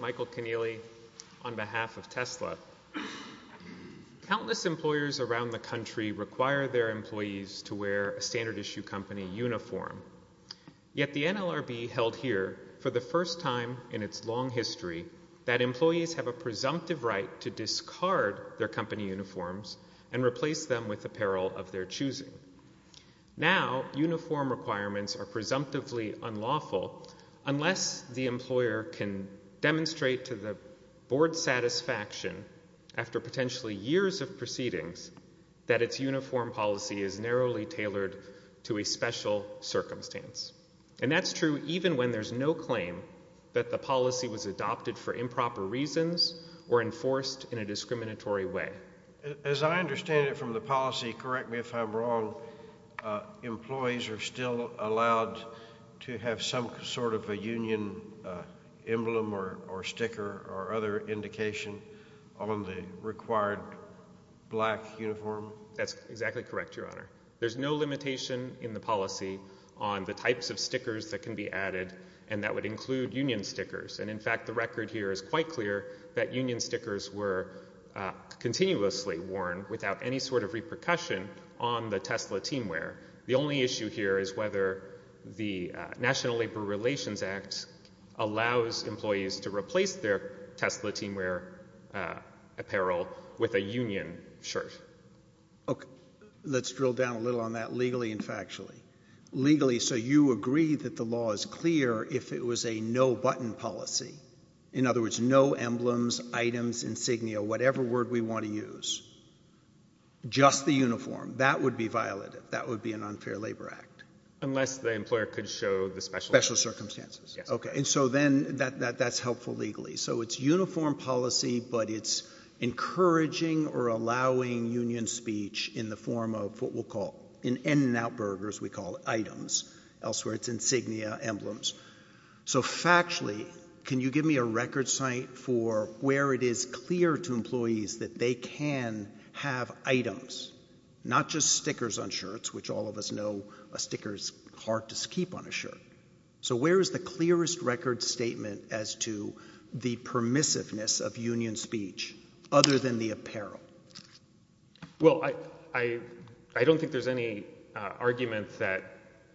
Michael Keneally, on behalf of Tesla Countless employers around the country require their employees to wear a standard-issue company uniform. Yet the NLRB held here, for the first time in its long history, that employees have a presumptive right to discard their company uniforms and replace them with apparel of their choosing. Now, uniform requirements are presumptively unlawful unless the employer can demonstrate to the board's satisfaction, after potentially years of proceedings, that its uniform policy is narrowly tailored to a special circumstance. And that's true even when there's no claim that the policy was adopted for improper reasons or enforced in a discriminatory way. As I understand it from the policy, correct me if I'm wrong, employees are still allowed to have some sort of a union emblem or sticker or other indication on the required black uniform? That's exactly correct, Your Honor. There's no limitation in the policy on the types of equipment, and that would include union stickers. And, in fact, the record here is quite clear that union stickers were continuously worn without any sort of repercussion on the Tesla teamwear. The only issue here is whether the National Labor Relations Act allows employees to replace their Tesla teamwear apparel with a union shirt. Okay. Let's drill down a little on that legally and factually. Legally, so you agree that the law is clear if it was a no-button policy, in other words, no emblems, items, insignia, whatever word we want to use, just the uniform. That would be violative. That would be an unfair labor act. Unless the employer could show the special circumstances. Special circumstances. Yes. Okay. And so then that's helpful legally. So it's uniform policy, but it's encouraging or allowing union speech in the form of what we'll call, in In-N-Out Burgers, we call items. Elsewhere, it's insignia, emblems. So factually, can you give me a record site for where it is clear to employees that they can have items, not just stickers on shirts, which all of us know a sticker is hard to keep on a shirt. So where is the clearest record statement as to the permissiveness of union speech, other than the apparel? Well, I, I, I don't think there's any, uh, argument that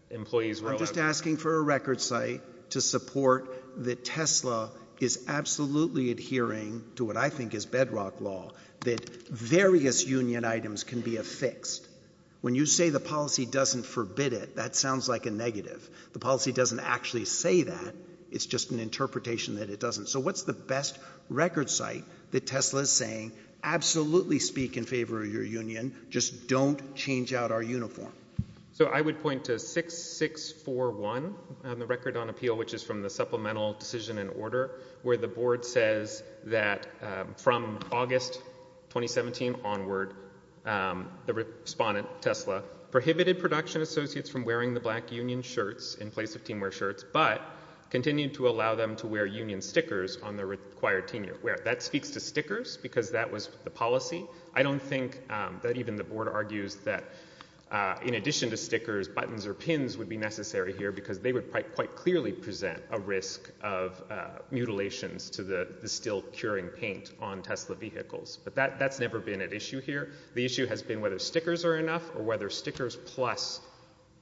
employees will agree. I'm just asking for a record site to support that Tesla is absolutely adhering to what I think is bedrock law, that various union items can be affixed. When you say the policy doesn't forbid it, that sounds like a negative. The policy doesn't actually say that. It's just an interpretation that it doesn't. So what's the best record site that Tesla is saying? Absolutely speak in favor of your union. Just don't change out our uniform. So I would point to 6-6-4-1 on the record on appeal, which is from the supplemental decision and order, where the board says that, um, from August 2017 onward, um, the respondent, Tesla, prohibited production associates from wearing the black union shirts in place of teamwear shirts, but continued to allow them to wear union stickers on the required team wear. That speaks to stickers because that was the policy. I don't think, um, that even the board argues that, uh, in addition to stickers, buttons or pins would be necessary here because they would quite, quite clearly present a risk of, uh, mutilations to the, the still curing paint on Tesla vehicles. But that, that's never been an issue here. The issue has been whether stickers are enough or whether stickers plus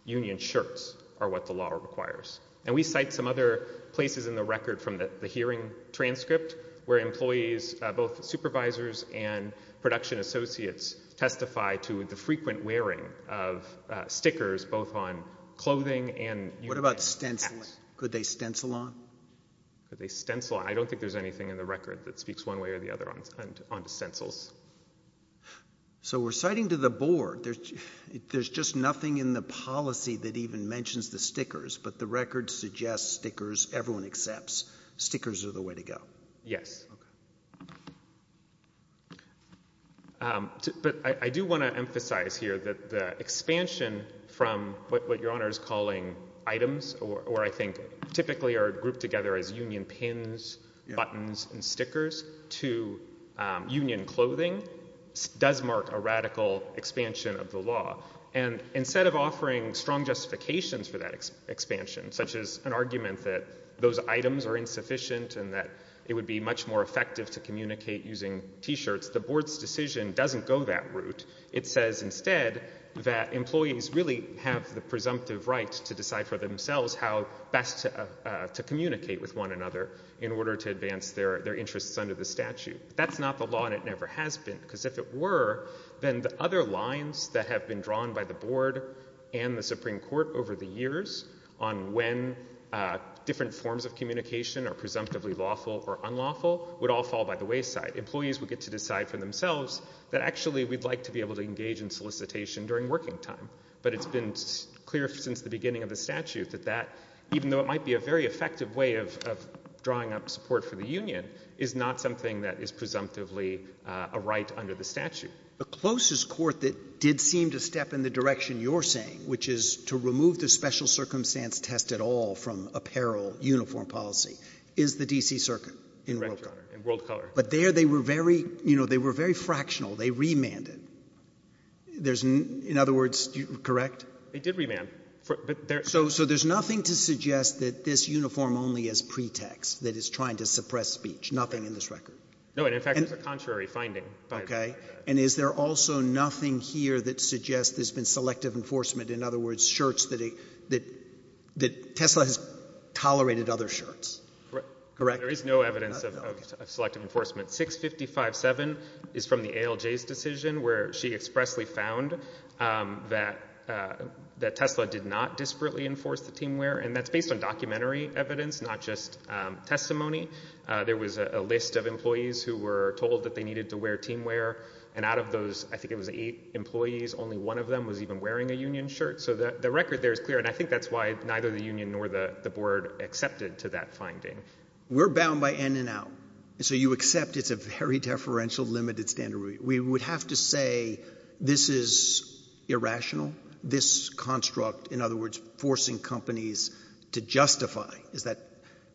union shirts are what the law requires. And we cite some other places in the record from the, the hearing transcript where employees, uh, both supervisors and production associates testify to the frequent wearing of, uh, stickers both on clothing and union shirts. What about stenciling? Could they stencil on? Could they stencil on? I don't think there's anything in the record that speaks one way or the other on, on stencils. So we're citing to the board, there's, there's just nothing in the policy that even mentions the stickers, but the record suggests stickers. Everyone accepts stickers are the way to go. Yes. Okay. Um, to, but I, I do want to emphasize here that the expansion from what, what your Honor is calling items or, or I think typically are grouped together as union pins, buttons and stickers to, um, union clothing does mark a radical expansion of the law. And instead of offering strong justifications for that expansion, such as an argument that those items are insufficient and that it would be much more effective to communicate using t-shirts, the board's decision doesn't go that route. It says instead that employees really have the presumptive right to decide for themselves how best to, uh, uh, to communicate with one another in order to advance their, their interests under the statute. That's not the law and it never has been because if it were, then the other lines that have been drawn by the board and the Supreme Court over the years on when, uh, different forms of communication are presumptively lawful or unlawful would all fall by the wayside. Employees would get to decide for themselves that actually we'd like to be able to engage in solicitation during working time. But it's been clear since the beginning of the statute that that, even though it might be a very effective way of, of drawing up support for the union is not something that is presumptively, uh, a right under the statute. The closest court that did seem to step in the direction you're saying, which is to remove the special circumstance test at all from apparel uniform policy, is the D.C. Circuit in Roe v. Conner. Correct, Your Honor, in World Color. But there they were very, you know, they were very fractional. They remanded. There's no other words, correct? They did remand. So, so there's nothing to suggest that this uniform only is pretext, that it's trying to suppress speech, nothing in this record. No, and in fact, there's a contrary finding by the Supreme Court. Okay. And is there also nothing here that suggests there's been selective enforcement? In other words, shirts that, that, that Tesla has tolerated other shirts, correct? There is no evidence of selective enforcement. 655-7 is from the ALJ's decision where she expressly found, um, that, uh, that Tesla did not disparately enforce the team wear. And that's based on documentary evidence, not just, um, testimony. Uh, there was a list of employees who were told that they needed to wear team wear. And out of those, I think it was eight employees, only one of them was even wearing a union shirt. So the, the record there is clear. And I think that's why neither the union nor the, the board accepted to that finding. We're bound by in and out. So you accept it's a very deferential limited standard. We would have to say this is irrational. This construct, in other words, forcing companies to justify is that,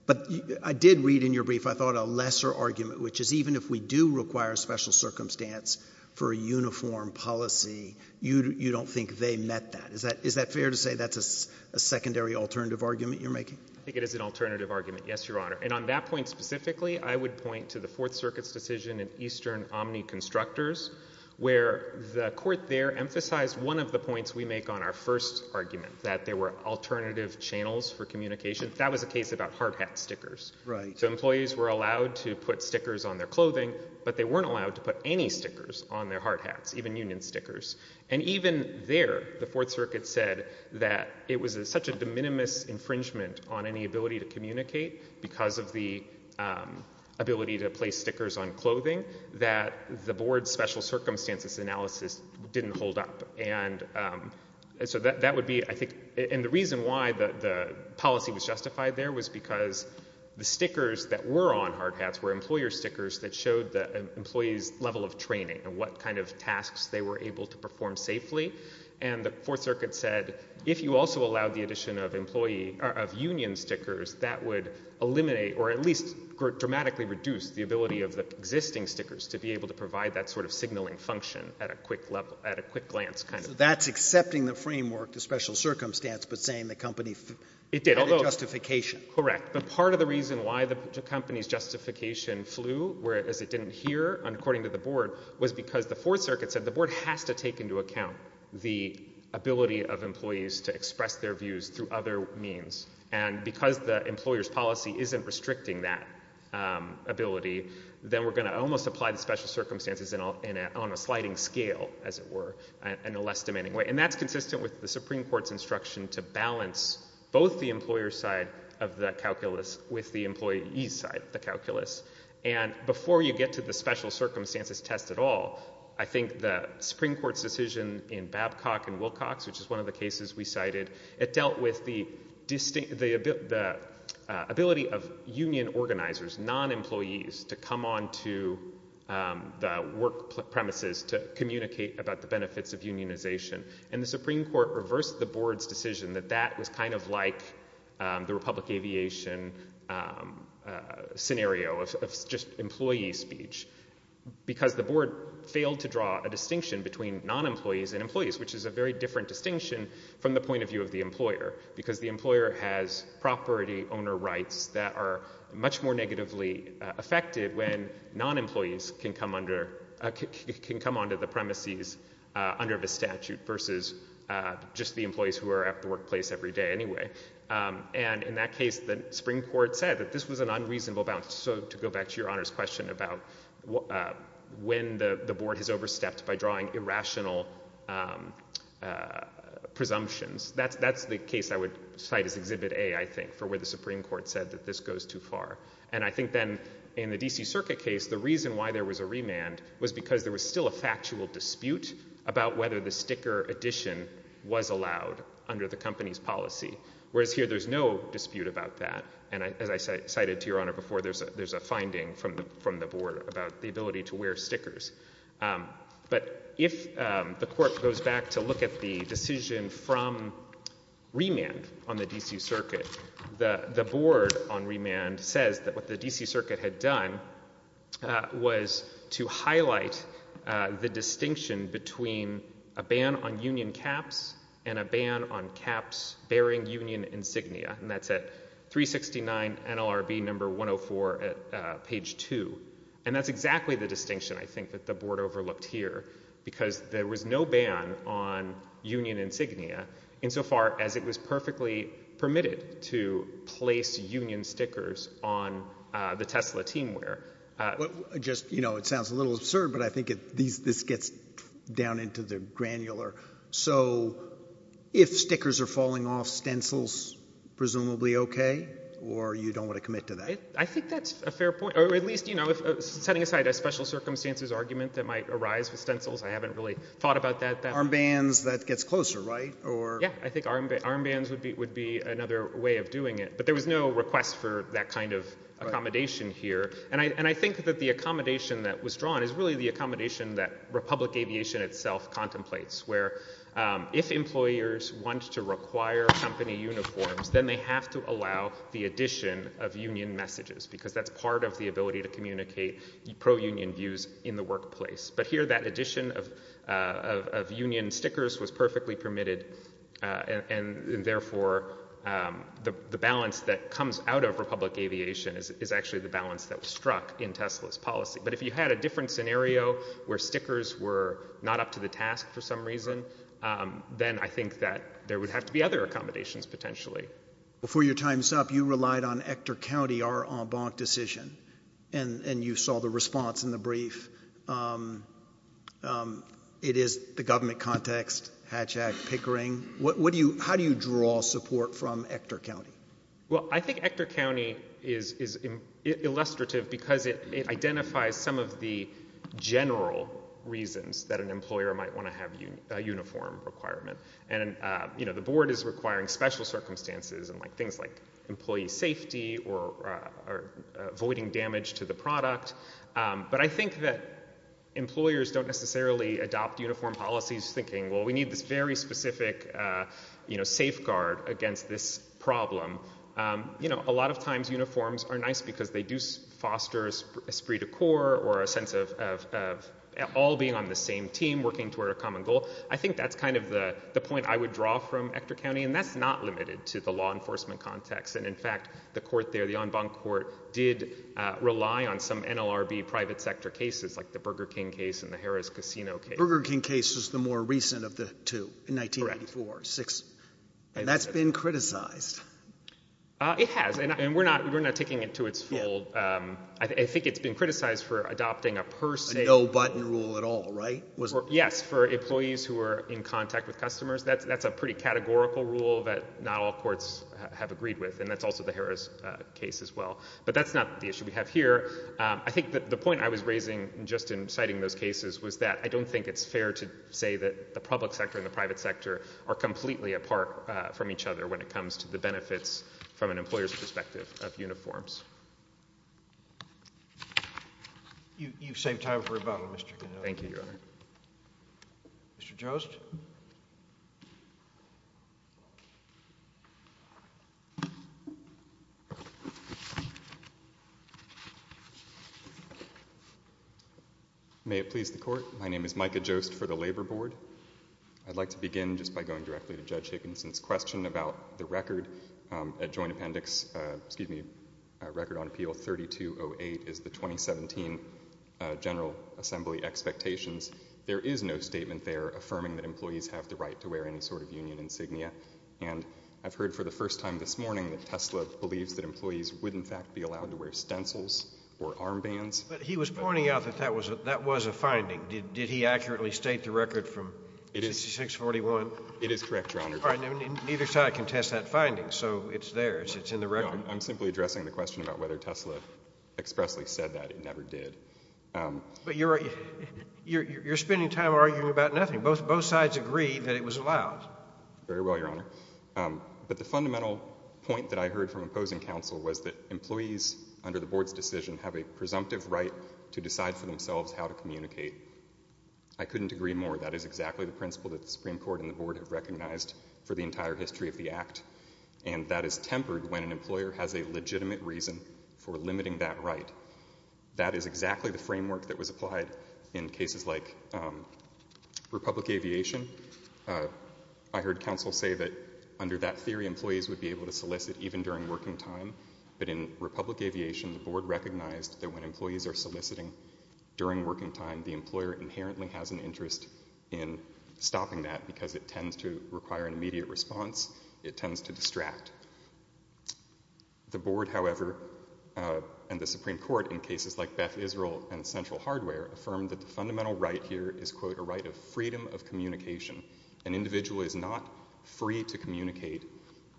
but I did read in your brief, I thought a lesser argument, which is even if we do require a special circumstance for a uniform policy, you, you don't think they met that. Is that, is that fair to say that's a secondary alternative argument you're making? I think it is an alternative argument. Yes, Your Honor. And on that point specifically, I would point to the Fourth Circuit's decision in Eastern Omni Constructors where the court there emphasized one of the points we make on our first argument, that there were alternative channels for communication. That was a case about hard hat stickers. So employees were allowed to put stickers on their clothing, but they weren't allowed to put any stickers on their hard hats, even union stickers. And even there, the Fourth Circuit said that it was such a de minimis infringement on any ability to communicate because of the ability to place stickers on clothing that the board's special circumstances analysis didn't hold up. And so that, that would be, I think, and the reason why the, the policy was justified there was because the stickers that were on hard hats were employer stickers that showed the employee's level of training and what kind of tasks they were able to perform safely. And the Fourth Circuit said, if you also allowed the addition of employee, of union stickers, that would eliminate or at least dramatically reduce the ability of the existing stickers to be able to provide that sort of signaling function at a quick level, at a quick glance kind of. So that's accepting the framework to special circumstance, but saying the company It did, although had a justification. Correct. But part of the reason why the company's justification flew, whereas it didn't hear according to the board, was because the Fourth Circuit said the board has to take into account the ability of employees to express their views through other means. And because the special circumstances in a, in a, on a sliding scale, as it were, in a less demanding way. And that's consistent with the Supreme Court's instruction to balance both the employer's side of the calculus with the employee's side of the calculus. And before you get to the special circumstances test at all, I think the Supreme Court's decision in Babcock and Wilcox, which is one of the cases we cited, it dealt with the distinct, the, the ability of union organizers, non-employees, to come onto the work premises to communicate about the benefits of unionization. And the Supreme Court reversed the board's decision that that was kind of like the Republic Aviation scenario of just employee speech. Because the board failed to draw a distinction between non-employees and employees, which is a very different distinction from the point of view of the employer. Because the employer has property owner rights that are much more negatively affected when non-employees can come under, can come onto the premises under the statute versus just the employees who are at the workplace every day anyway. And in that case, the Supreme Court said that this was an unreasonable balance. So to go back to your Honor's question about when the, the board has overstepped by drawing irrational presumptions, that's, that's the case I would cite as Exhibit A, I think, for where the Supreme Court said that this goes too far. And I think then in the D.C. Circuit case, the reason why there was a remand was because there was still a factual dispute about whether the sticker addition was allowed under the company's policy. Whereas here, there's no dispute about that. And I, as I cited to your Honor before, there's a, there's a finding from the, from the board about the ability to wear stickers. But if the court goes back to look at the decision from remand on the D.C. Circuit, the, the board on remand says that what the D.C. Circuit had done was to highlight the distinction between a ban on union caps and a ban on caps bearing union insignia. And that's at 369 NLRB No. 104 at page 2. And that's exactly the distinction, I think, that the board overlooked here. Because there was no ban on union insignia insofar as it was perfectly permitted to place union stickers on the Tesla team wear. Well, just, you know, it sounds a little absurd, but I think it, these, this gets down into the granular. So, if stickers are falling off, stencils presumably okay? Or you don't want to commit to that? I think that's a fair point. Or at least, you know, setting aside a special circumstances argument that might arise with stencils, I haven't really thought about that. Arm bands, that gets closer, right? Or? Yeah. I think arm bands would be another way of doing it. But there was no request for that kind of accommodation here. And I, and I think that the accommodation that was drawn is really the accommodation that Republic Aviation itself contemplates. Where if employers want to require company uniforms, then they have to allow the addition of union messages. Because that's part of the ability to communicate pro-union views in the workplace. But here that addition of, of, of union stickers was perfectly permitted. And, and therefore, the, the balance that comes out of Republic Aviation is, is actually the balance that was struck in Tesla's policy. But if you had a different scenario where stickers were not up to the task for some reason, then I think that there would have to be other accommodations potentially. Before your time's up, you relied on Hector County, our en banc decision. And, and you saw the response in the brief. It is the government context, Hatch Act, Pickering. What do you, how do you draw support from Hector County? Well, I think Hector County is, is illustrative because it, it identifies some of the general reasons that an employer might want to have a uniform requirement. And, you know, the circumstances and like things like employee safety or, or avoiding damage to the product. But I think that employers don't necessarily adopt uniform policies thinking, well, we need this very specific, you know, safeguard against this problem. You know, a lot of times uniforms are nice because they do foster esprit de corps or a sense of, of, of all being on the same team working toward a common goal. I think that's kind of the, the point I would draw from Hector County. And that's not limited to the law enforcement context. And in fact, the court there, the en banc court did rely on some NLRB private sector cases like the Burger King case and the Harrah's Casino case. Burger King case was the more recent of the two, in 1984, six. And that's been criticized. It has. And we're not, we're not taking it to its full. I think it's been criticized for adopting a per se. A no button rule at all, right? Yes. For employees who are in contact with customers, that's, that's a pretty categorical rule that not all courts have agreed with. And that's also the Harrah's case as well. But that's not the issue we have here. I think that the point I was raising just in citing those cases was that I don't think it's fair to say that the public sector and the private sector are completely apart from each other when it comes to the benefits from an employer's perspective of uniforms. You, you've saved time for rebuttal, Mr. Connolly. Thank you, Your Honor. Mr. Jost. May it please the court. My name is Micah Jost for the Labor Board. I'd like to begin just by going directly to Judge Hickinson's question about the record at Joint Appendix, excuse me, Record on Appeal 3208 is the 2017 General Assembly expectations. There is no statement there affirming that employees have the right to wear any sort of union insignia. And I've heard for the first time this morning that Tesla believes that employees would in fact be allowed to wear stencils or armbands. But he was pointing out that that was, that was a finding. Did, did he accurately state It is correct, Your Honor. Neither side can test that finding, so it's theirs. It's in the record. I'm simply addressing the question about whether Tesla expressly said that. It never did. But you're, you're, you're spending time arguing about nothing. Both, both sides agree that it was allowed. Very well, Your Honor. But the fundamental point that I heard from opposing counsel was that employees under the board's decision have a presumptive right to decide for themselves how to communicate. I couldn't agree more. That is exactly the principle that the Supreme Court and the board have recognized for the entire history of the act. And that is tempered when an employer has a legitimate reason for limiting that right. That is exactly the framework that was applied in cases like Republic Aviation. I heard counsel say that under that theory employees would be able to solicit even during working time. But in Republic Aviation, the board recognized that when employees are soliciting during working time, the employer inherently has an interest in stopping that because it tends to require an immediate response. It tends to distract. The board, however, and the Supreme Court in cases like Beth Israel and Central Hardware affirmed that the fundamental right here is, quote, a right of freedom of communication. An individual is not free to communicate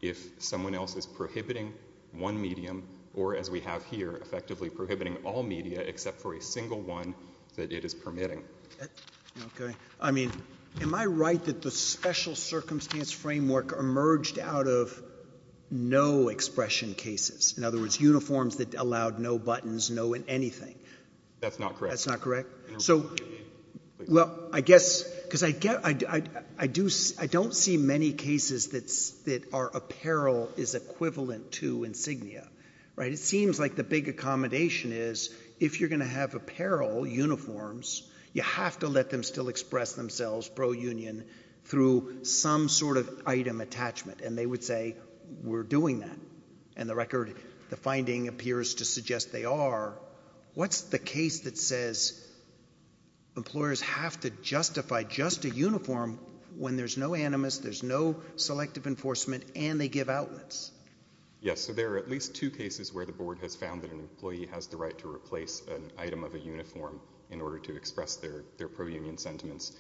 if someone else is prohibiting one medium or, as we have here, effectively prohibiting all media except for a single one that it is permitting. Okay. I mean, am I right that the special circumstance framework emerged out of no-expression cases? In other words, uniforms that allowed no buttons, no anything? That's not correct. That's not correct? No. Well, I guess, because I don't see many cases that are apparel is equivalent to insignia. Right? It seems like the big accommodation is, if you're going to have apparel uniforms, you have to let them still express themselves pro-union through some sort of item attachment. And they would say, we're doing that. And the record, the finding appears to suggest they are. What's the case that says employers have to justify just a uniform when there's no animus, there's no selective enforcement, and they give outlets? Yes. So there are at least two cases where the board has found that an employee has the right to replace an item of a uniform in order to express their pro-union sentiments.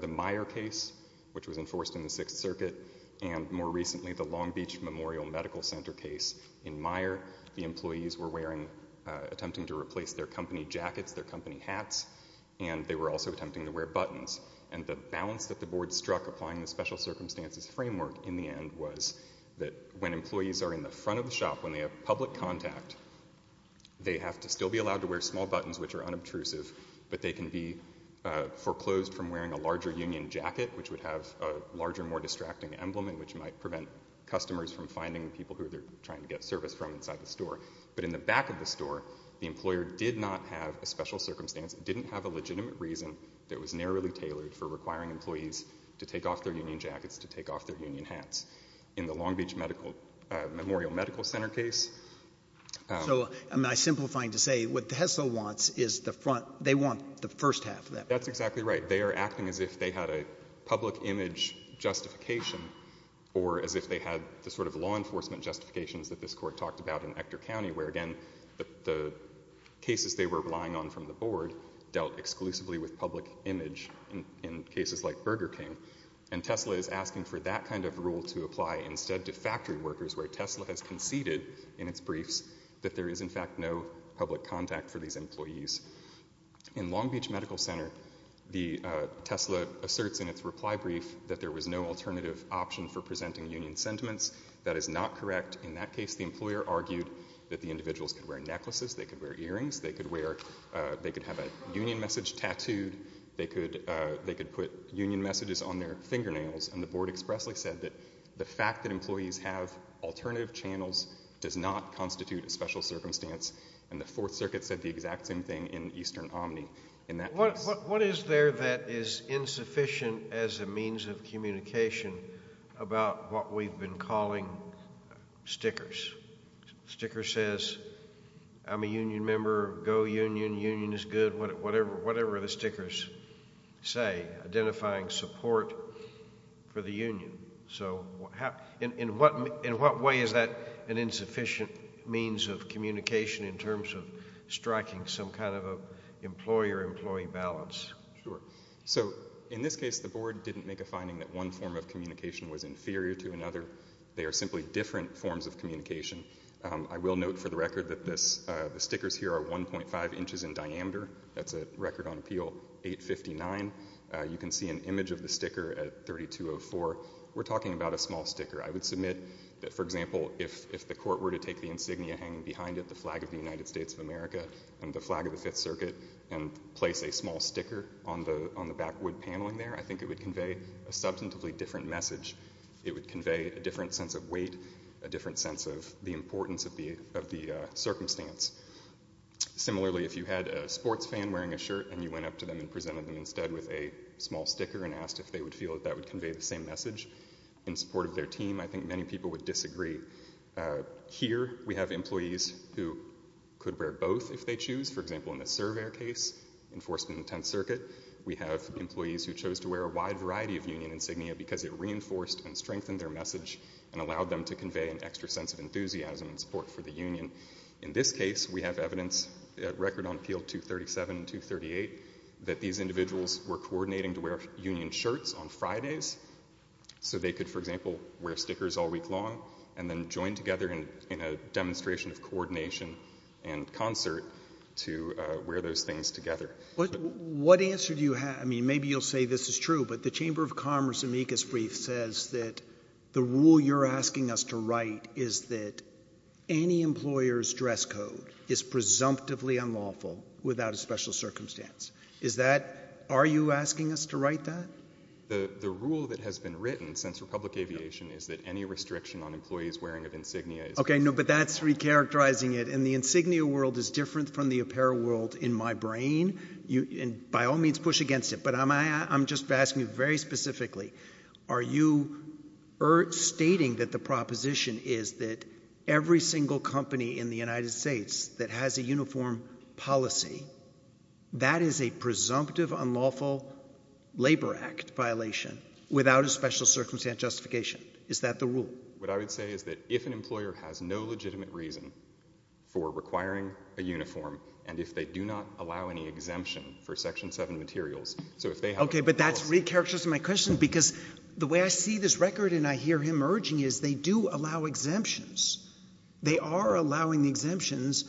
The Meyer case, which was enforced in the Sixth Circuit, and more recently the Long Beach Memorial Medical Center case in Meyer, the employees were wearing, attempting to replace their company jackets, their company hats, and they were also attempting to wear buttons. And the balance that the board struck applying the special circumstances framework in the end was that when employees are in the front of the shop, when they have public contact, they have to still be allowed to wear small buttons, which are unobtrusive, but they can be foreclosed from wearing a larger union jacket, which would have a larger, more distracting emblem and which might prevent customers from finding people who they're trying to get service from inside the store. But in the back of the store, the employer did not have a special circumstance, didn't have a legitimate reason that was narrowly tailored for requiring employees to take off their union jackets, to take off their union hats. In the Long Beach Medical, Memorial Medical Center case, um... So, I mean, I'm simplifying to say, what the HESO wants is the front, they want the first half of that. That's exactly right. They are acting as if they had a public image justification or as if they had the sort of law enforcement justifications that this Court talked about in Hector County, where again, the cases they were relying on from the board dealt exclusively with public image in cases like Burger King. And Tesla is asking for that kind of rule to apply instead to factory workers, where Tesla has conceded in its briefs that there is, in fact, no public contact for these employees. In Long Beach Medical Center, the Tesla asserts in its reply brief that there was no alternative option for presenting union sentiments. That is not correct. In that case, the employer argued that the individuals could wear necklaces, they could wear earrings, they could have a union message tattooed, they could put union messages on their fingernails. And the board expressly said that the fact that employees have alternative channels does not constitute a special circumstance. And the Fourth Circuit said the exact same thing in Eastern Omni. In that case... What is there that is insufficient as a means of communication about what we've been calling stickers? Sticker says, I'm a union member, go union, union is good, whatever the stickers say, identifying support for the union. So in what way is that an insufficient means of communication in terms of striking some kind of employer-employee balance? Sure. So in this case, the board didn't make a finding that one form of communication was inferior to another. They are simply different forms of communication. I will note for the record that the stickers here are 1.5 inches in diameter. That's a record on appeal 859. You can see an image of the sticker at 3204. We're talking about a small sticker. I would submit that, for example, if the court were to take the insignia hanging behind it, the flag of the United States of America and the flag of the Fifth Circuit, and place a small sticker on the backwood paneling there, I think it would convey a substantively different message. It would convey a different sense of weight, a different sense of the importance of the circumstance. Similarly, if you had a sports fan wearing a shirt and you went up to them and presented them instead with a small sticker and asked if they would feel that that would convey the same message in support of their team, I think many people would disagree. Here we have employees who could wear both if they choose. For example, in the Cerver case, enforcement in the Tenth Circuit, we have employees who reinforced and strengthened their message and allowed them to convey an extra sense of enthusiasm and support for the union. In this case, we have evidence, a record on appeal 237 and 238, that these individuals were coordinating to wear union shirts on Fridays so they could, for example, wear stickers all week long and then join together in a demonstration of coordination and concert to wear those things together. What answer do you have? I mean, maybe you'll say this is true, but the Chamber of Commerce amicus brief says that the rule you're asking us to write is that any employer's dress code is presumptively unlawful without a special circumstance. Are you asking us to write that? The rule that has been written since Republic Aviation is that any restriction on employees wearing an insignia is— Okay, no, but that's recharacterizing it, and the insignia world is different from the apparel world in my brain, and by all means, push against it. But I'm just asking you very specifically, are you stating that the proposition is that every single company in the United States that has a uniform policy, that is a presumptive unlawful labor act violation without a special circumstance justification? Is that the rule? What I would say is that if an employer has no legitimate reason for requiring a uniform, and if they do not allow any exemption for Section 7 materials, so if they have— Okay, but that's recharacterizing my question, because the way I see this record and I hear him urging is they do allow exemptions. They are allowing the exemptions,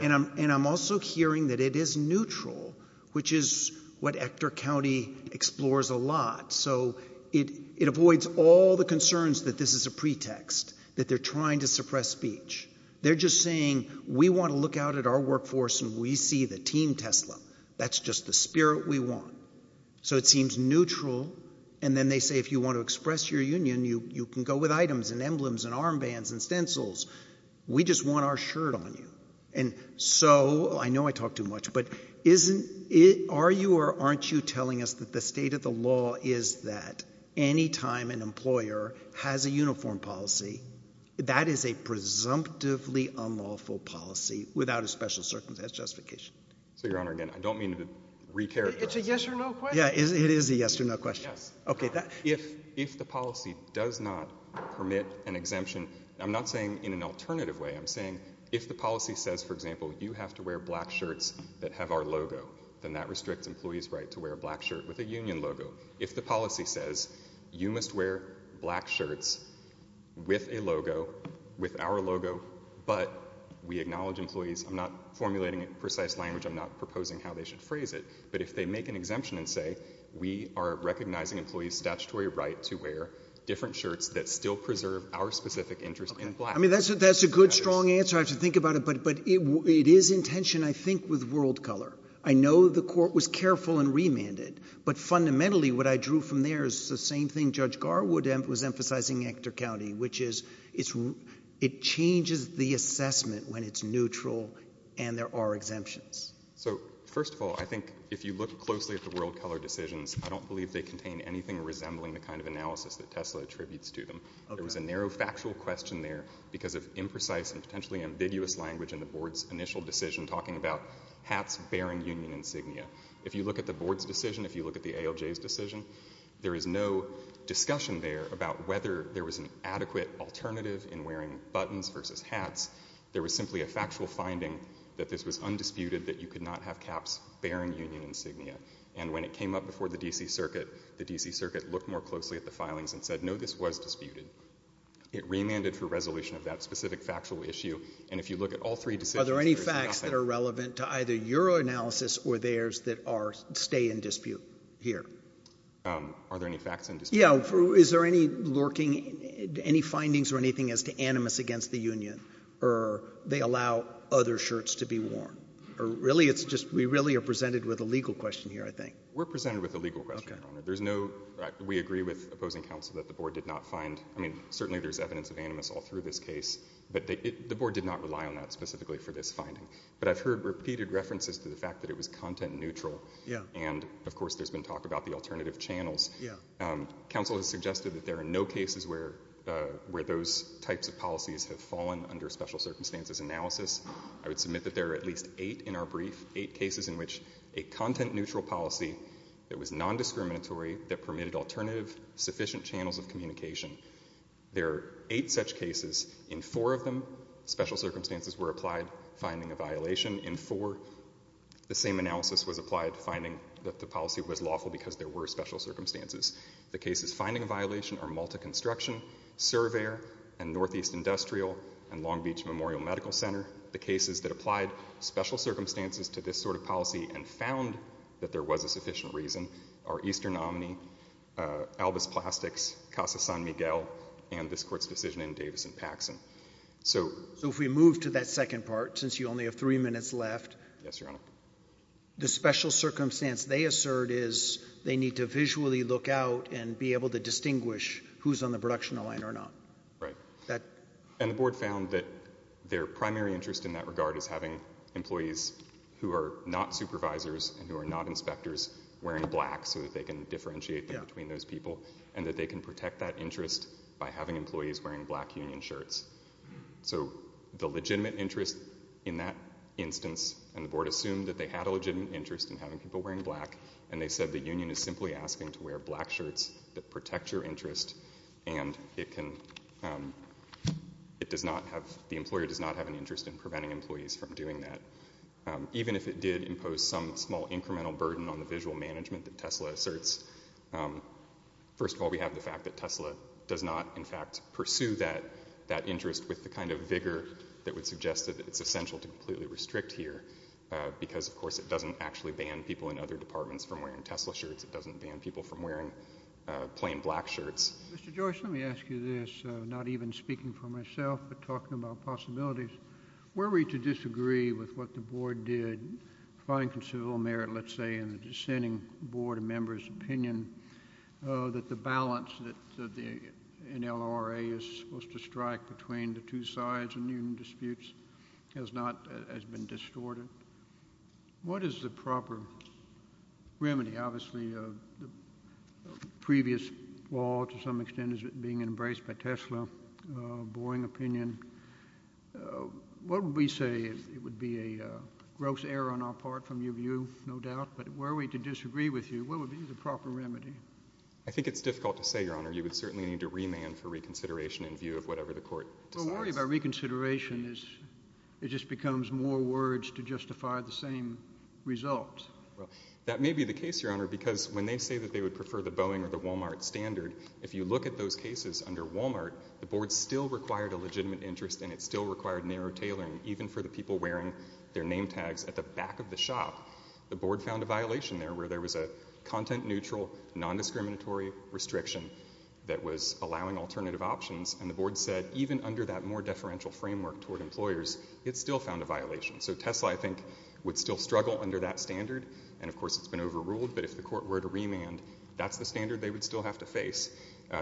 and I'm also hearing that it is neutral, which is what Hector County explores a lot, so it avoids all the concerns that this is a pretext, that they're trying to suppress speech. They're just saying, we want to look out at our workforce and we see the team Tesla. That's just the spirit we want. So it seems neutral, and then they say if you want to express your union, you can go with items and emblems and armbands and stencils. We just want our shirt on you. And so, I know I talk too much, but are you or aren't you telling us that the state of an employer has a uniform policy that is a presumptively unlawful policy without a special justification? So, Your Honor, again, I don't mean to recharacterize— It's a yes or no question. Yeah. It is a yes or no question. Yes. Okay. If the policy does not permit an exemption, I'm not saying in an alternative way, I'm saying if the policy says, for example, you have to wear black shirts that have our logo, then that restricts employees' right to wear a black shirt with a union logo. If the policy says you must wear black shirts with a logo, with our logo, but we acknowledge employees—I'm not formulating a precise language, I'm not proposing how they should phrase it—but if they make an exemption and say we are recognizing employees' statutory right to wear different shirts that still preserve our specific interest in black— Okay. I mean, that's a good, strong answer. I have to think about it. But it is in tension, I think, with world color. I know the court was careful and remanded, but fundamentally, what I drew from there is the same thing Judge Garwood was emphasizing in Hector County, which is it changes the assessment when it's neutral and there are exemptions. So first of all, I think if you look closely at the world color decisions, I don't believe they contain anything resembling the kind of analysis that Tesla attributes to them. Okay. There was a narrow factual question there because of imprecise and potentially ambiguous language in the board's initial decision talking about hats bearing union insignia. If you look at the board's decision, if you look at the ALJ's decision, there is no discussion there about whether there was an adequate alternative in wearing buttons versus hats. There was simply a factual finding that this was undisputed, that you could not have caps bearing union insignia. And when it came up before the D.C. Circuit, the D.C. Circuit looked more closely at the filings and said, no, this was disputed. It remanded for resolution of that specific factual issue. And if you look at all three decisions— Are there any facts that are relevant to either your analysis or theirs that stay in dispute here? Are there any facts in dispute? Yeah. Is there any lurking, any findings or anything as to animus against the union, or they allow other shirts to be worn, or really it's just we really are presented with a legal question here, I think. We're presented with a legal question, Your Honor. Okay. So there's no—we agree with opposing counsel that the Board did not find—I mean, certainly there's evidence of animus all through this case, but the Board did not rely on that specifically for this finding. But I've heard repeated references to the fact that it was content neutral, and of course there's been talk about the alternative channels. Counsel has suggested that there are no cases where those types of policies have fallen under special circumstances analysis. I would submit that there are at least eight in our brief, eight cases in which a content was discriminatory that permitted alternative, sufficient channels of communication. There are eight such cases. In four of them, special circumstances were applied, finding a violation. In four, the same analysis was applied, finding that the policy was lawful because there were special circumstances. The cases finding a violation are Malta Construction, Surveyor, and Northeast Industrial, and Long Beach Memorial Medical Center. The cases that applied special circumstances to this sort of policy and found that there was a sufficient reason are Eastern Omni, Albus Plastics, Casa San Miguel, and this Court's decision in Davis and Paxson. So— So if we move to that second part, since you only have three minutes left— Yes, Your Honor. The special circumstance they assert is they need to visually look out and be able to distinguish who's on the production line or not. Right. That— And the Board found that their primary interest in that regard is having employees who are not supervisors and who are not inspectors wearing black so that they can differentiate between those people, and that they can protect that interest by having employees wearing black union shirts. So the legitimate interest in that instance, and the Board assumed that they had a legitimate interest in having people wearing black, and they said the union is simply asking to wear black shirts that protect your interest, and it can—it does not have—the employer does not have an interest in preventing employees from doing that. Even if it did impose some small incremental burden on the visual management that Tesla asserts, first of all, we have the fact that Tesla does not, in fact, pursue that interest with the kind of vigor that would suggest that it's essential to completely restrict here because, of course, it doesn't actually ban people in other departments from wearing Tesla shirts. It doesn't ban people from wearing plain black shirts. Mr. Joyce, let me ask you this, not even speaking for myself, but talking about possibilities. Were we to disagree with what the Board did, find considerable merit, let's say, in the dissenting Board of Members' opinion, that the balance that the NLRA is supposed to strike between the two sides in union disputes has not—has been distorted? What is the proper remedy, obviously, of the previous law, to some extent, as being embraced by Tesla, a boring opinion? What would we say? It would be a gross error on our part from your view, no doubt, but were we to disagree with you, what would be the proper remedy? I think it's difficult to say, Your Honor. You would certainly need to remand for reconsideration in view of whatever the Court decides. Well, worry about reconsideration is—it just becomes more words to justify the same result. Well, that may be the case, Your Honor, because when they say that they would prefer the Boeing or the Walmart standard, if you look at those cases under Walmart, the Board still required a legitimate interest, and it still required narrow tailoring, even for the people wearing their name tags at the back of the shop. The Board found a violation there, where there was a content-neutral, non-discriminatory restriction that was allowing alternative options, and the Board said, even under that more deferential framework toward employers, it still found a violation. So Tesla, I think, would still struggle under that standard, and, of course, it's been overruled, but if the Court were to remand, that's the standard they would still have to face.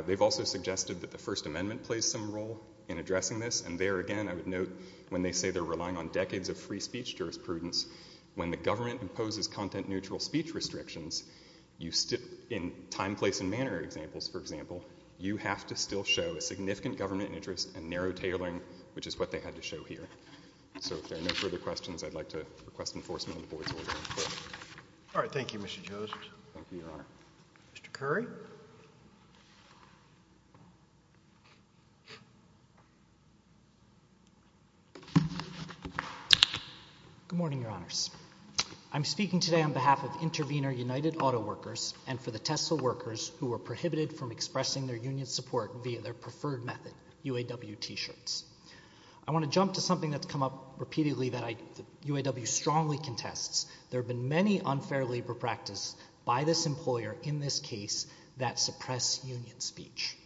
They've also suggested that the First Amendment plays some role in addressing this, and there, again, I would note, when they say they're relying on decades of free speech jurisprudence, when the government imposes content-neutral speech restrictions, in time, place, and manner examples, for example, you have to still show a significant government interest and narrow tailoring, which is what they had to show here. So if there are no further questions, I'd like to request enforcement of the Board's order. All right. Thank you, Mr. Josephs. Thank you, Your Honor. Mr. Curry? Good morning, Your Honors. I'm speaking today on behalf of Intervenor United Auto Workers, and for the Tesla workers who are prohibited from expressing their union support via their preferred method, UAW t-shirts. I want to jump to something that's come up repeatedly that UAW strongly contests. There have been many unfair labor practices by this employer in this case that suppress union speech.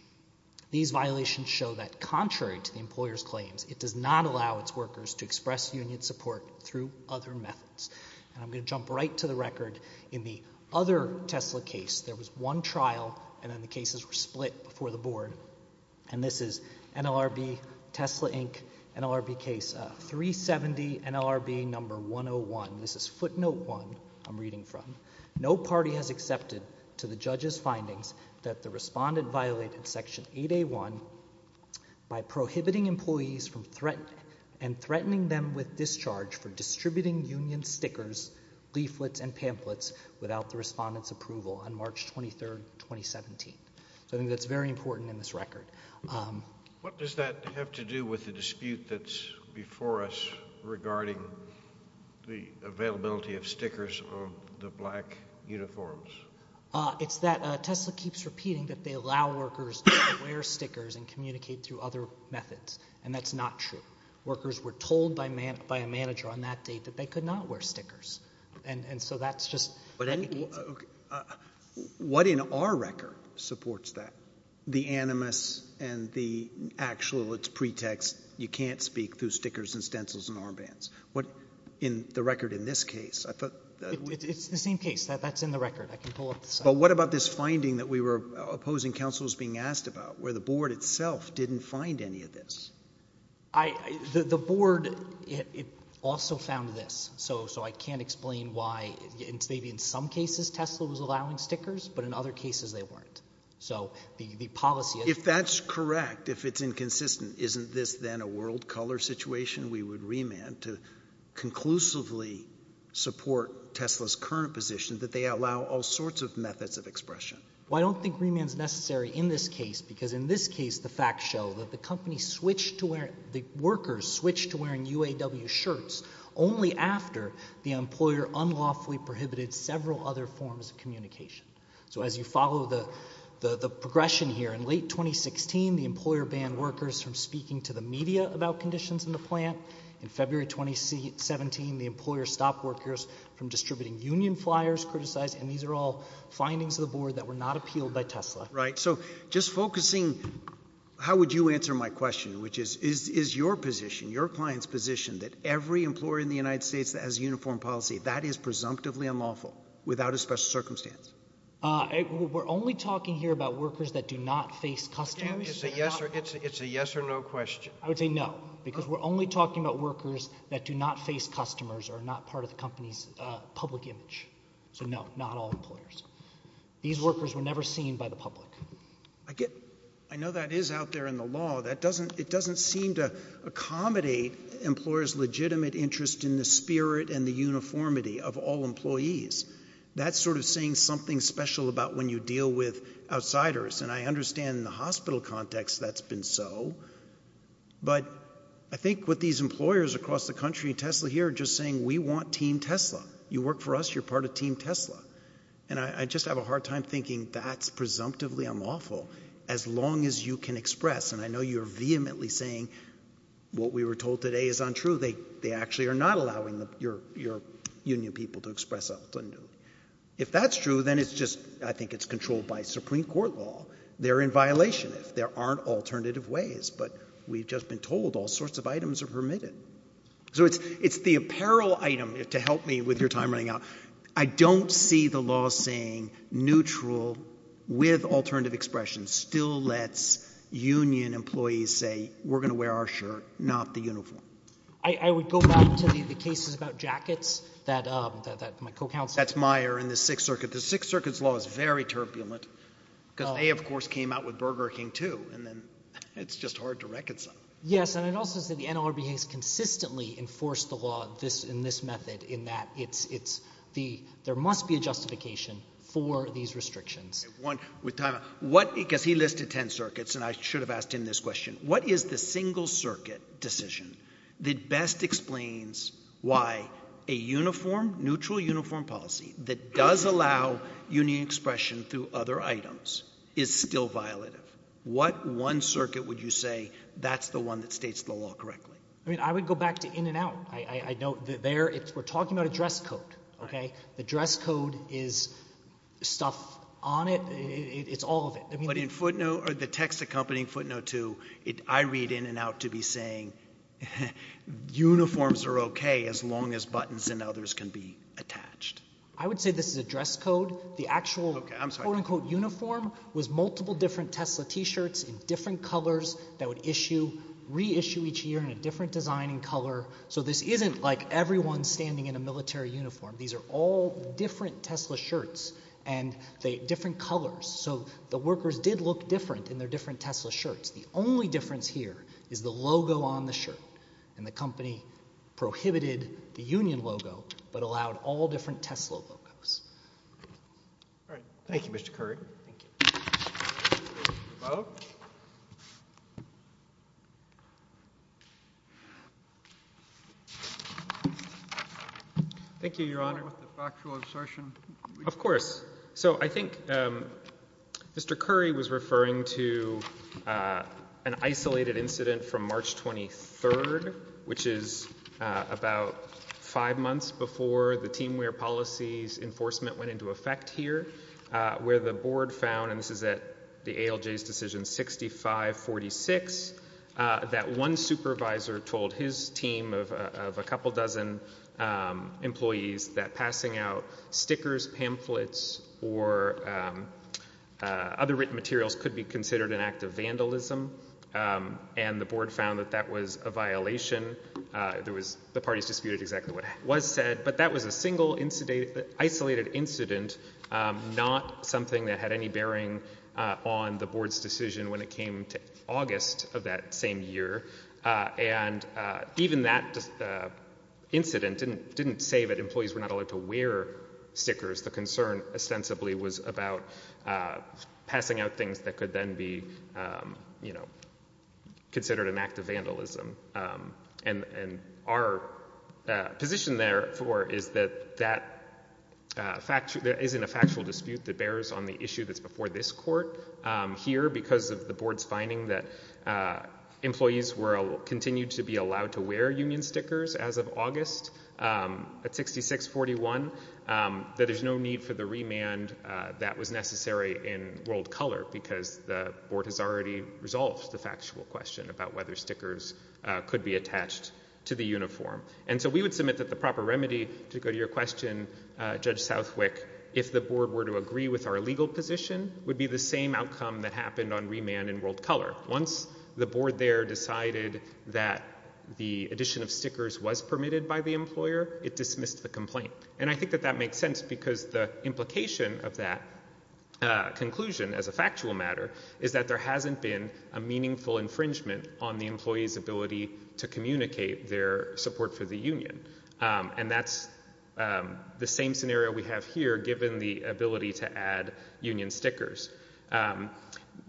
These violations show that, contrary to the employer's claims, it does not allow its workers to express union support through other methods, and I'm going to jump right to the record. In the other Tesla case, there was one trial, and then the cases were split before the Board, and this is NLRB, Tesla Inc., NLRB case 370, NLRB number 101. This is footnote one I'm reading from. No party has accepted to the judge's findings that the respondent violated section 8A1 by prohibiting employees and threatening them with discharge for distributing union stickers, leaflets, and pamphlets without the respondent's approval on March 23, 2017. So I think that's very important in this record. What does that have to do with the dispute that's before us regarding the availability of stickers on the black uniforms? It's that Tesla keeps repeating that they allow workers to wear stickers and communicate through other methods, and that's not true. Workers were told by a manager on that date that they could not wear stickers, and so that's just... But what in our record supports that? The animus and the actual, it's pretext, you can't speak through stickers and stencils and armbands. What in the record in this case? It's the same case. That's in the record. I can pull up the... But what about this finding that we were opposing counsel was being asked about, where the Board itself didn't find any of this? The Board also found this, so I can't explain why, maybe in some cases Tesla was allowing stickers, but in other cases they weren't. So the policy... If that's correct, if it's inconsistent, isn't this then a world color situation? We would remand to conclusively support Tesla's current position that they allow all sorts of methods of expression. Well, I don't think remand's necessary in this case, because in this case the facts show that the workers switched to wearing UAW shirts only after the employer unlawfully prohibited several other forms of communication. So as you follow the progression here, in late 2016 the employer banned workers from speaking to the media about conditions in the plant, in February 2017 the employer stopped workers from distributing union flyers, criticized, and these are all findings of the Board that were not appealed by Tesla. Right. So just focusing, how would you answer my question, which is, is your position, your client's position, that every employer in the United States that has a uniform policy, that is presumptively unlawful, without a special circumstance? We're only talking here about workers that do not face customers. It's a yes or no question. I would say no, because we're only talking about workers that do not face customers or are not part of the company's public image. So no, not all employers. These workers were never seen by the public. I get, I know that is out there in the law. That doesn't, it doesn't seem to accommodate employers' legitimate interest in the spirit and the uniformity of all employees. That's sort of saying something special about when you deal with outsiders. And I understand in the hospital context that's been so. But I think what these employers across the country, Tesla here, are just saying, we want Team Tesla. You work for us, you're part of Team Tesla. And I just have a hard time thinking that's presumptively unlawful. As long as you can express, and I know you're vehemently saying what we were told today is untrue, they actually are not allowing your union people to express ultimately. If that's true, then it's just, I think it's controlled by Supreme Court law. They're in violation if there aren't alternative ways. But we've just been told all sorts of items are permitted. So it's the apparel item, to help me with your time running out. I don't see the law saying neutral with alternative expressions still lets union employees say, we're going to wear our shirt, not the uniform. I would go back to the cases about jackets that my co-counsel. That's Meyer and the Sixth Circuit. The Sixth Circuit's law is very turbulent, because they, of course, came out with Burger King, too. And then it's just hard to reconcile. Yes, and it also says that the NLRB has consistently enforced the law in this method in that it's the, there must be a justification for these restrictions. One, with time, what, because he listed 10 circuits, and I should have asked him this question. What is the single circuit decision that best explains why a uniform, neutral uniform policy that does allow union expression through other items is still violative? What one circuit would you say, that's the one that states the law correctly? I mean, I would go back to In-N-Out. I know that there, we're talking about a dress code, okay? The dress code is stuff on it. It's all of it. But in footnote, or the text accompanying footnote, too, I read In-N-Out to be saying, uniforms are okay as long as buttons and others can be attached. I would say this is a dress code. The actual, quote, unquote, uniform was multiple different Tesla t-shirts in different colors so this isn't like everyone standing in a military uniform. These are all different Tesla shirts and they, different colors. So the workers did look different in their different Tesla shirts. The only difference here is the logo on the shirt, and the company prohibited the union logo but allowed all different Tesla logos. All right. Thank you, Mr. Curry. Thank you. Hello? Thank you, Your Honor. With the factual assertion. Of course. So I think Mr. Curry was referring to an isolated incident from March 23rd, which is about five months before the TeamWear policies enforcement went into effect here, where the board found, and this is at the ALJ's decision 6546, that one supervisor told his team of a couple dozen employees that passing out stickers, pamphlets, or other written materials could be considered an act of vandalism. And the board found that that was a violation. There was, the parties disputed exactly what was said. But that was a single isolated incident, not something that had any bearing on the board's decision when it came to August of that same year. And even that incident didn't say that employees were not allowed to wear stickers. The concern ostensibly was about passing out things that could then be, you know, considered an act of vandalism. And our position therefore is that that isn't a factual dispute that bears on the issue that's before this court here because of the board's finding that employees were continued to be allowed to wear union stickers as of August at 6641. That there's no need for the remand that was necessary in world color because the board has already resolved the factual question about whether stickers could be attached to the uniform. And so we would submit that the proper remedy to go to your question, Judge Southwick, if the board were to agree with our legal position, would be the same outcome that happened on remand in world color. Once the board there decided that the addition of stickers was permitted by the employer, it dismissed the complaint. And I think that that makes sense because the implication of that conclusion as a factual matter is that there hasn't been a meaningful infringement on the employee's ability to communicate their support for the union. And that's the same scenario we have here given the ability to add union stickers.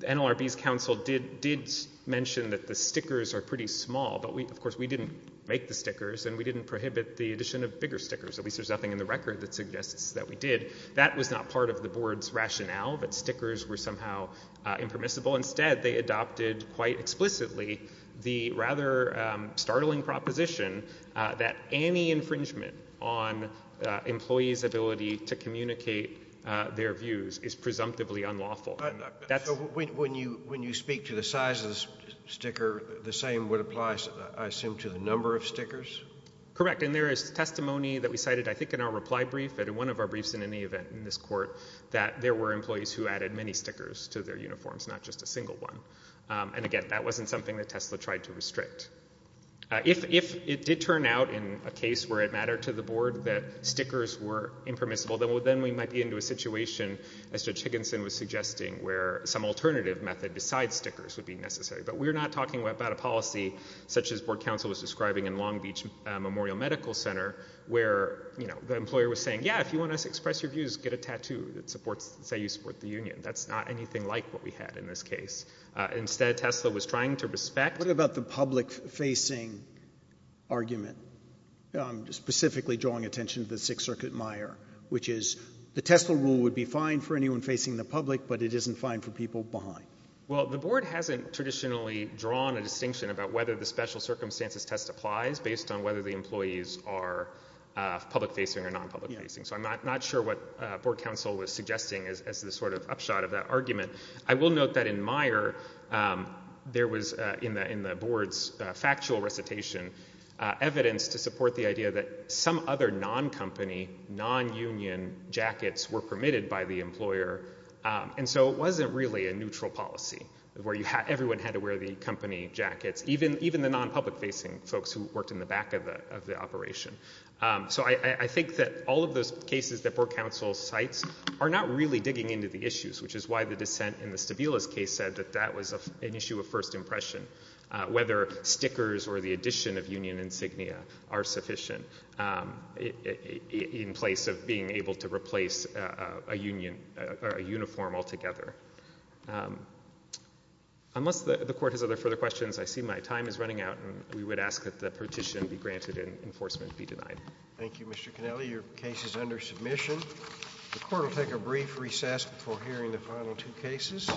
NLRB's counsel did mention that the stickers are pretty small, but of course we didn't make the stickers and we didn't prohibit the addition of bigger stickers. At least there's nothing in the record that suggests that we did. That was not part of the board's rationale, that stickers were somehow impermissible. Instead, they adopted quite explicitly the rather startling proposition that any infringement on employee's ability to communicate their views is presumptively unlawful. That's a... When you speak to the size of the sticker, the same would apply, I assume, to the number of stickers? Correct. And there is testimony that we cited, I think, in our reply brief and in one of our briefs in any event in this court, that there were employees who added many stickers to their uniforms, not just a single one. And again, that wasn't something that Tesla tried to restrict. If it did turn out in a case where it mattered to the board that stickers were impermissible, then we might be into a situation, as Judge Higginson was suggesting, where some alternative method besides stickers would be necessary. But we're not talking about a policy such as board counsel was describing in Long Beach Memorial Medical Center where, you know, an employer was saying, yeah, if you want us to express your views, get a tattoo that supports... say you support the union. That's not anything like what we had in this case. Instead, Tesla was trying to respect... What about the public-facing argument? I'm specifically drawing attention to the Sixth Circuit mire, which is the Tesla rule would be fine for anyone facing the public, but it isn't fine for people behind. Well, the board hasn't traditionally drawn a distinction about whether the special circumstances test applies based on whether the employees are public-facing or non-public-facing. So I'm not sure what board counsel was suggesting as the sort of upshot of that argument. I will note that in mire, there was, in the board's factual recitation, evidence to support the idea that some other non-company, non-union jackets were permitted by the employer. And so it wasn't really a neutral policy where everyone had to wear the company jackets, even the non-public-facing folks who worked in the back of the operation. So I think that all of those cases that board counsel cites are not really digging into the issues, which is why the dissent in the Stabila's case said that that was an issue of first impression, whether stickers or the addition of union insignia are sufficient in place of being able to replace a union... ..a uniform altogether. Unless the Court has other further questions, I see my time is running out, and we would ask that the petition be granted and enforcement be denied. Thank you, Mr Cannelli. Your case is under submission. The Court will take a brief recess before hearing the final two cases.